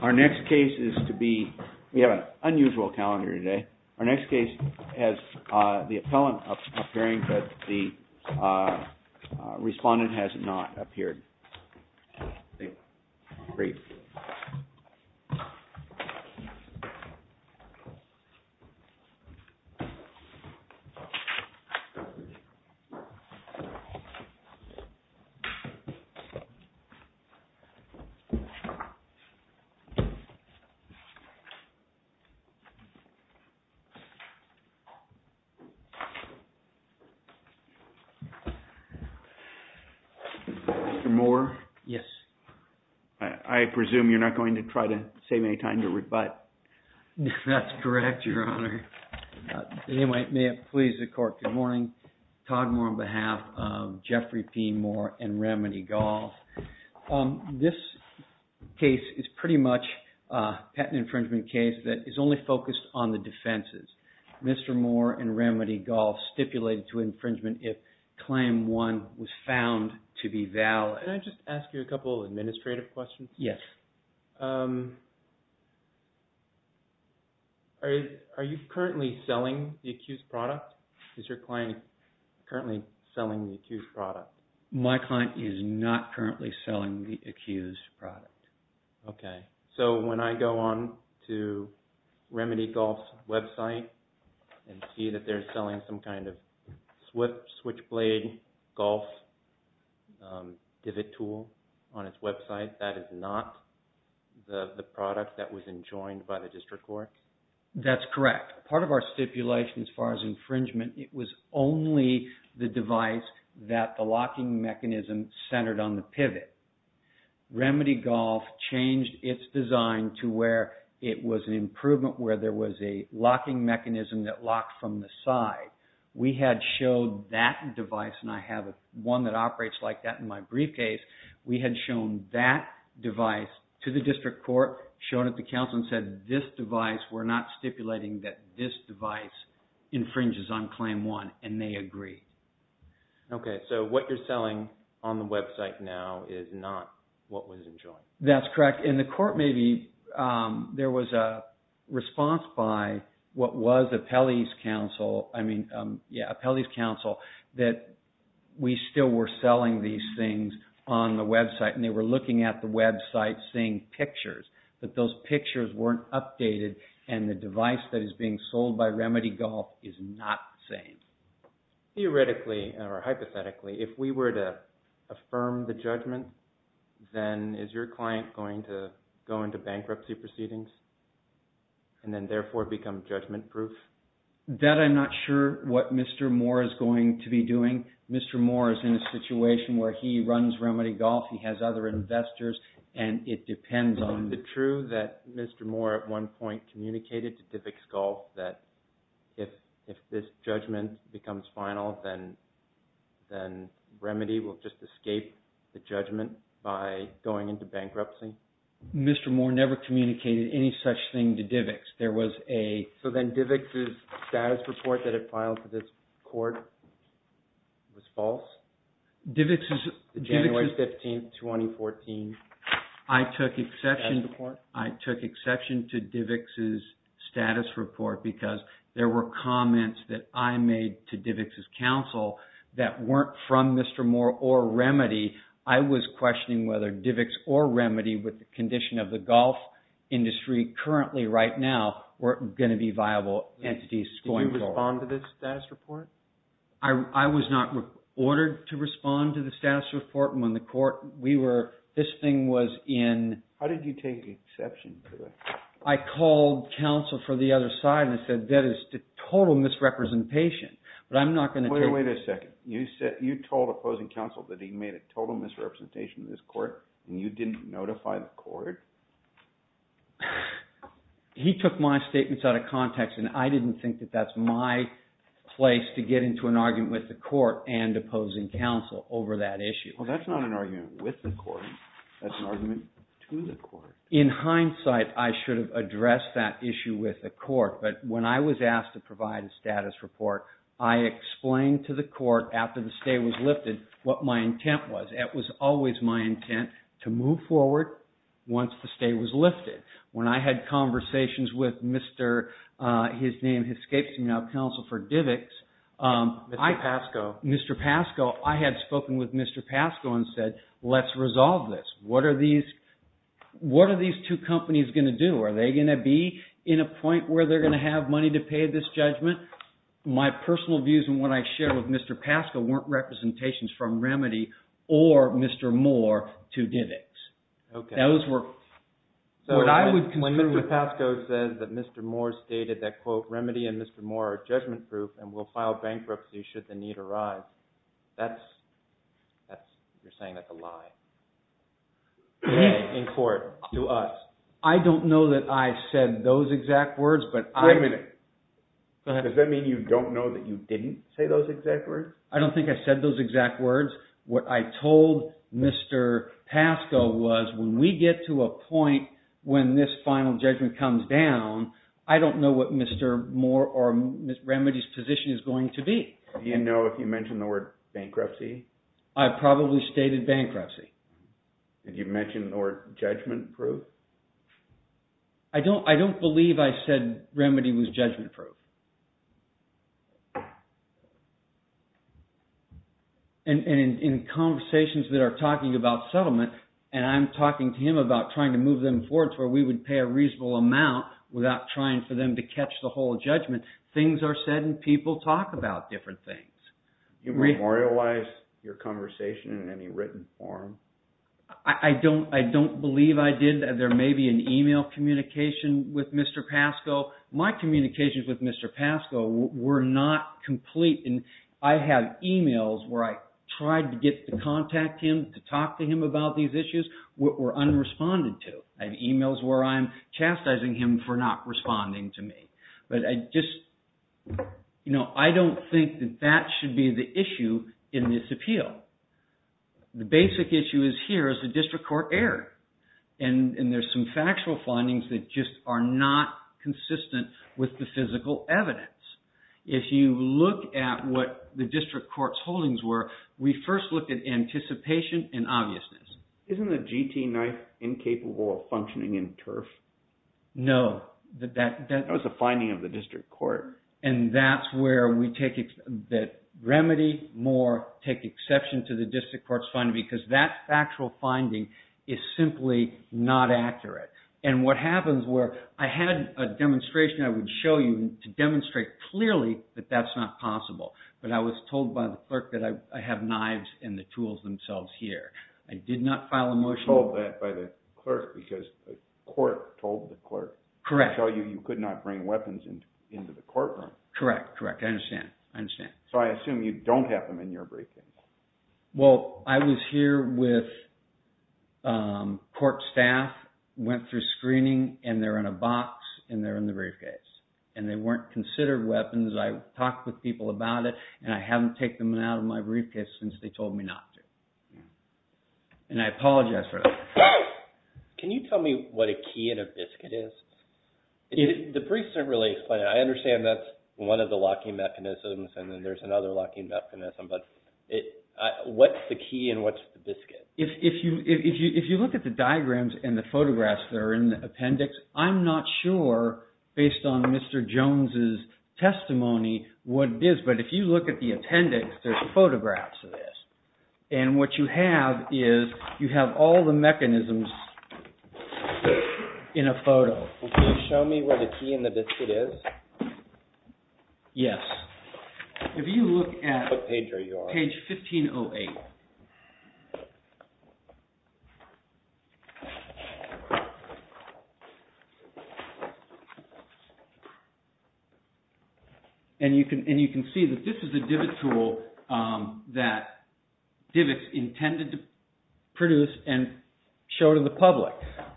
Our next case is to be, we have an unusual calendar today, our next case has the appellant appearing, but the respondent has not appeared. Great. Mr. Mohr? Yes. I presume you're not going to try to save any time to rebut. That's correct, your honor. Anyway, may it please the court, good morning. Todd Mohr on behalf of Jeffrey P. Mohr and Remedy Golf. This case is pretty much a patent infringement case that is only focused on the defenses. Mr. Mohr and Remedy Golf stipulated to infringement if claim one was found to be valid. Can I just ask you a couple of administrative questions? Yes. Are you currently selling the accused product? Is your client currently selling the accused product? My client is not currently selling the accused product. Okay, so when I go on to Remedy Golf's website and see that they're selling some kind of switchblade golf pivot tool on its website, that is not the product that was enjoined by the district court? That's correct. Part of our stipulation as far as infringement, it was only the device that the locking mechanism centered on the pivot. Remedy Golf changed its design to where it was an improvement where there was a locking mechanism that locked from the side. We had showed that device, and I have one that operates like that in my briefcase, we had shown that device to the district court, showed it to counsel, and said this device, we're not stipulating that this device infringes on claim one, and they agree. Okay, so what you're selling on the website now is not what was enjoined? That's correct. In the court, maybe there was a response by what was Apelli's counsel, I mean, yeah, Apelli's counsel, that we still were selling these things on the website, and they were looking at the website, seeing pictures, but those pictures weren't updated, and the device that is being sold by Remedy Golf is not the same. Theoretically, or hypothetically, if we were to affirm the judgment, then is your client going to go into bankruptcy proceedings, and then therefore become judgment-proof? That I'm not sure what Mr. Moore is going to be doing. Mr. Moore is in a situation where he runs Remedy Golf, he has other investors, and it depends on... Is it true that Mr. Moore at one point communicated to Divix Golf that if this judgment becomes final, then Remedy will just escape the judgment by going into bankruptcy? Mr. Moore never communicated any such thing to Divix. There was a... So then Divix's status report that it filed to this court was false? Divix's... I took exception to Divix's status report because there were comments that I made to Divix's counsel that weren't from Mr. Moore or Remedy. I was questioning whether Divix or Remedy, with the condition of the golf industry currently right now, were going to be viable entities going forward. Did you respond to this status report? I was not ordered to respond to the status report when the court... This thing was in... How did you take exception to it? I called counsel for the other side and I said that is a total misrepresentation. But I'm not going to... Wait a second. You told opposing counsel that he made a total misrepresentation in this court and you didn't notify the court? He took my statements out of context and I didn't think that that's my place to get into an argument with the court and opposing counsel over that issue. Well, that's not an argument with the court. That's an argument to the court. In hindsight, I should have addressed that issue with the court. But when I was asked to provide a status report, I explained to the court, after the stay was lifted, what my intent was. It was always my intent to move forward once the stay was lifted. When I had conversations with Mr., his name escapes me now, Counsel for Divix... Mr. Pascoe. I had spoken with Mr. Pascoe and said, let's resolve this. What are these two companies going to do? Are they going to be in a point where they're going to have money to pay this judgment? My personal views and what I shared with Mr. Pascoe weren't representations from Remedy or Mr. Moore to Divix. Okay. Those were... When Mr. Pascoe says that Mr. Moore stated that, quote, Remedy and Mr. Moore are judgment proof and will file bankruptcy should the need arise, that's... You're saying that's a lie in court to us. I don't know that I said those exact words, but I... Wait a minute. Go ahead. Does that mean you don't know that you didn't say those exact words? I don't think I said those exact words. What I told Mr. Pascoe was, when we get to a point when this final judgment comes down, I don't know what Mr. Moore or Remedy's position is going to be. Do you know if you mentioned the word bankruptcy? I probably stated bankruptcy. Did you mention the word judgment proof? I don't believe I said Remedy was judgment proof. And in conversations that are talking about settlement, and I'm talking to him about trying to move them forward to where we would pay a reasonable amount without trying for them to catch the whole judgment, things are said and people talk about different things. You memorialized your conversation in any written form? I don't believe I did. There may be an email communication with Mr. Pascoe. My communications with Mr. Pascoe were not complete. I have emails where I tried to get to contact him, to talk to him about these issues, were unresponded to. I have emails where I'm chastising him for not responding to me. But I just, you know, I don't think that that should be the issue in this appeal. The basic issue is here is the district court error. And there's some factual findings that just are not consistent with the physical evidence. If you look at what the district court's holdings were, we first looked at anticipation and obviousness. Isn't the GT knife incapable of functioning in turf? No. That was a finding of the district court. And that's where Remedy, Moore, take exception to the district court's finding because that factual finding is simply not accurate. And what happens where I had a demonstration I would show you to demonstrate clearly that that's not possible. But I was told by the clerk that I have knives and the tools themselves here. I did not file a motion. You were told that by the clerk because the court told the clerk. Correct. To show you you could not bring weapons into the courtroom. Correct. Correct. I understand. I understand. So I assume you don't have them in your briefcase. Well, I was here with court staff, went through screening, and they're in a box, and they're in the briefcase. And they weren't considered weapons. I talked with people about it, and I haven't taken them out of my briefcase since they told me not to. And I apologize for that. Can you tell me what a key in a biscuit is? The briefs don't really explain it. I understand that's one of the locking mechanisms, and then there's another locking mechanism. But what's the key and what's the biscuit? If you look at the diagrams and the photographs that are in the appendix, I'm not sure, based on Mr. Jones' testimony, what it is. But if you look at the appendix, there's photographs of this. And what you have is you have all the mechanisms in a photo. Can you show me where the key in the biscuit is? Yes. If you look at page 1508. And you can see that this is a divot tool that divots intended to produce and show to the public.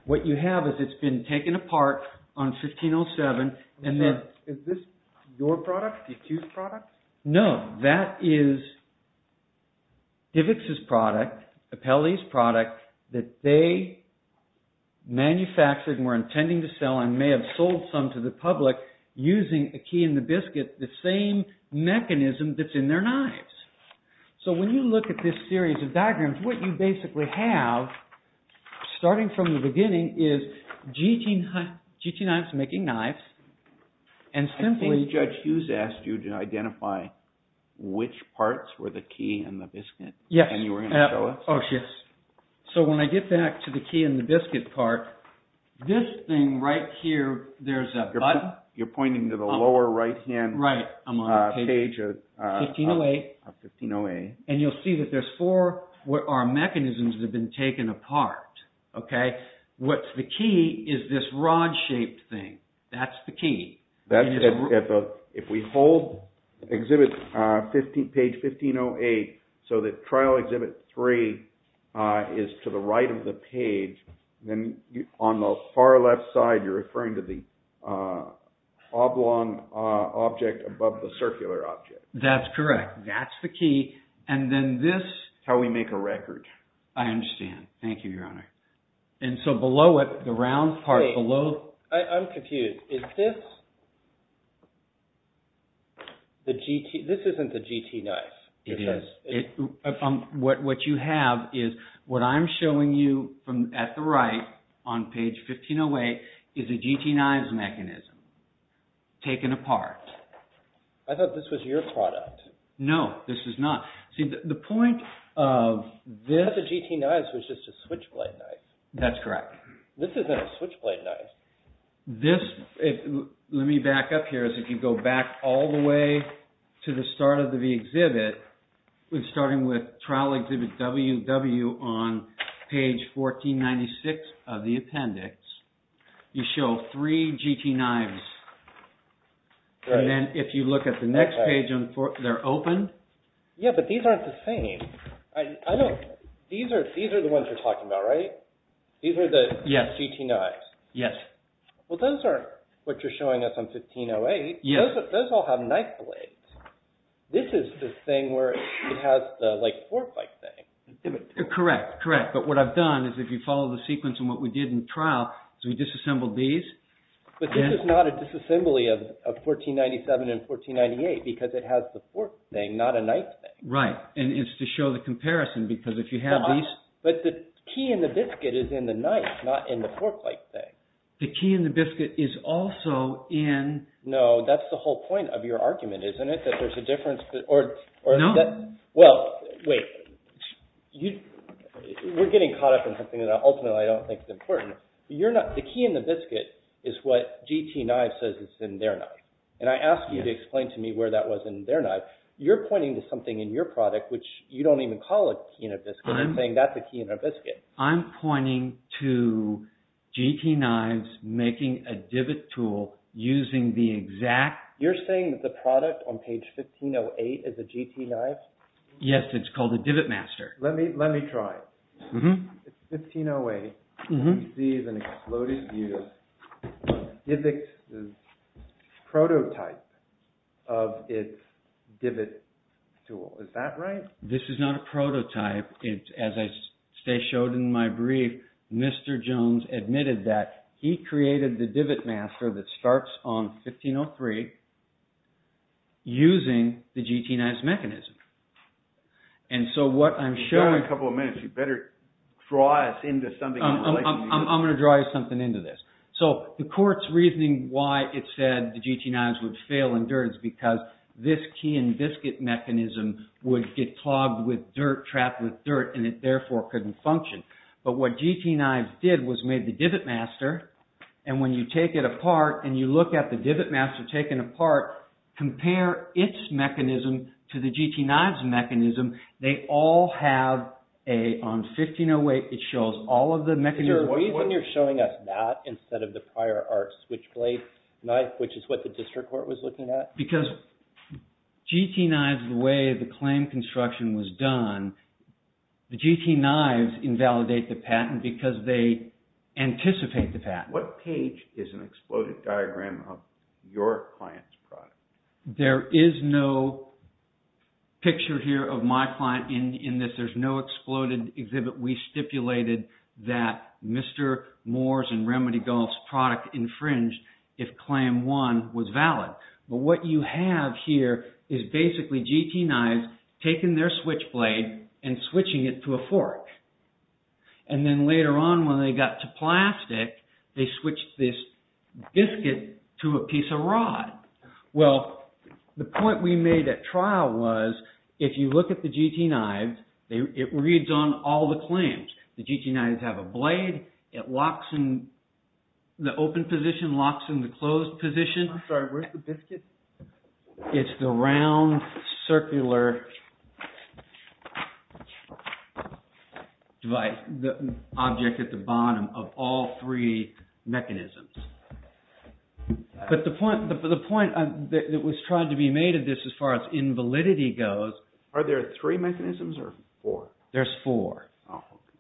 What you have is it's been taken apart on 1507. Is this your product? Did you choose products? No, that is Divots' product, Apelli's product that they manufactured and were intending to sell and may have sold some to the public using a key in the biscuit, the same mechanism that's in their knives. So when you look at this series of diagrams, what you basically have, starting from the beginning, is GT knives making knives. I believe Judge Hughes asked you to identify which parts were the key in the biscuit. Yes. And you were going to show us? Yes. So when I get back to the key in the biscuit part, this thing right here, there's a button. You're pointing to the lower right-hand page of 1508. And you'll see that there's four mechanisms that have been taken apart. What's the key is this rod-shaped thing. That's the key. If we hold exhibit page 1508 so that trial exhibit 3 is to the right of the page, then on the far left side you're referring to the oblong object above the circular object. That's correct. That's the key. And then this... How we make a record. I understand. Thank you, Your Honor. And so below it, the round part below... I'm confused. Is this... This isn't the GT knife. It is. What you have is what I'm showing you at the right on page 1508 is a GT knives mechanism taken apart. I thought this was your product. No, this is not. The point of this... I thought the GT knives was just a switchblade knife. That's correct. This isn't a switchblade knife. This... Let me back up here. If you go back all the way to the start of the exhibit, starting with trial exhibit WW on page 1496 of the appendix, you show three GT knives. And then if you look at the next page, they're open. Yeah, but these aren't the same. These are the ones you're talking about, right? These are the GT knives. Yes. Well, those aren't what you're showing us on 1508. Those all have knife blades. This is the thing where it has the fork-like thing. Correct, correct. But what I've done is if you follow the sequence of what we did in trial, we disassembled these. But this is not a disassembly of 1497 and 1498 because it has the fork thing, not a knife thing. Right, and it's to show the comparison because if you have these... But the key in the biscuit is in the knife, not in the fork-like thing. The key in the biscuit is also in... No, that's the whole point of your argument, isn't it? That there's a difference... No. Well, wait. We're getting caught up in something that ultimately I don't think is important. The key in the biscuit is what GT Knives says is in their knife. And I asked you to explain to me where that was in their knife. You're pointing to something in your product which you don't even call a key in a biscuit. I'm saying that's a key in a biscuit. I'm pointing to GT Knives making a divot tool using the exact... You're saying that the product on page 1508 is a GT Knives? Yes, it's called a Divot Master. Let me try. It's 1508. You see it's an exploded divot. It's a prototype of its divot tool. Is that right? This is not a prototype. As I showed in my brief, Mr. Jones admitted that he created the Divot Master that starts on 1503 using the GT Knives mechanism. And so what I'm showing... You've got a couple of minutes. You better draw us into something. I'm going to draw you something into this. So the court's reasoning why it said the GT Knives would fail in dirt is because this key in biscuit mechanism would get clogged with dirt, trapped with dirt, and it therefore couldn't function. But what GT Knives did was made the Divot Master. And when you take it apart and you look at the Divot Master taken apart, compare its mechanism to the GT Knives mechanism, they all have a... On 1508, it shows all of the mechanisms. When you're showing us that instead of the prior art switchblade knife, which is what the district court was looking at? Because GT Knives, the way the claim construction was done, the GT Knives invalidate the patent because they anticipate the patent. What page is an exploded diagram of your client's product? There is no picture here of my client in this. There's no exploded exhibit. We stipulated that Mr. Moore's and Remedy Golf's product infringed if claim one was valid. But what you have here is basically GT Knives taking their switchblade and switching it to a fork. And then later on when they got to plastic, they switched this biscuit to a piece of rod. Well, the point we made at trial was if you look at the GT Knives, it reads on all the claims. The GT Knives have a blade, it locks in the open position, locks in the closed position. It's the round circular object at the bottom of all three mechanisms. But the point that was tried to be made of this as far as invalidity goes. Are there three mechanisms or four? There's four.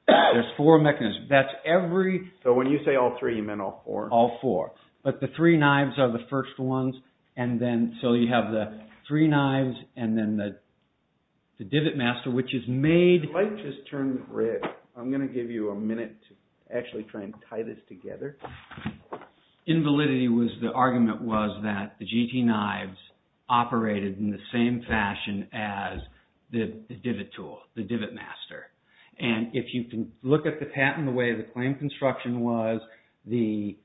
There's four mechanisms. So when you say all three, you meant all four? All four. But the three knives are the first ones. So you have the three knives and then the divot master which is made. The light just turned red. I'm going to give you a minute to actually try and tie this together. Invalidity, the argument was that the GT Knives operated in the same fashion as the divot tool, the divot master. If you can look at the patent, the way the claim construction was, the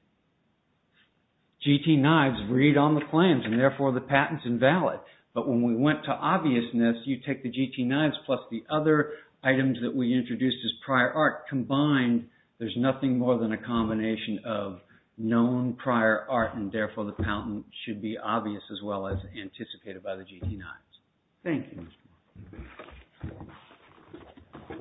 GT Knives read on the claims and therefore the patent's invalid. But when we went to obviousness, you take the GT Knives plus the other items that we introduced as prior art combined. There's nothing more than a combination of known prior art and therefore the patent should be obvious as well as anticipated by the GT Knives. Thank you.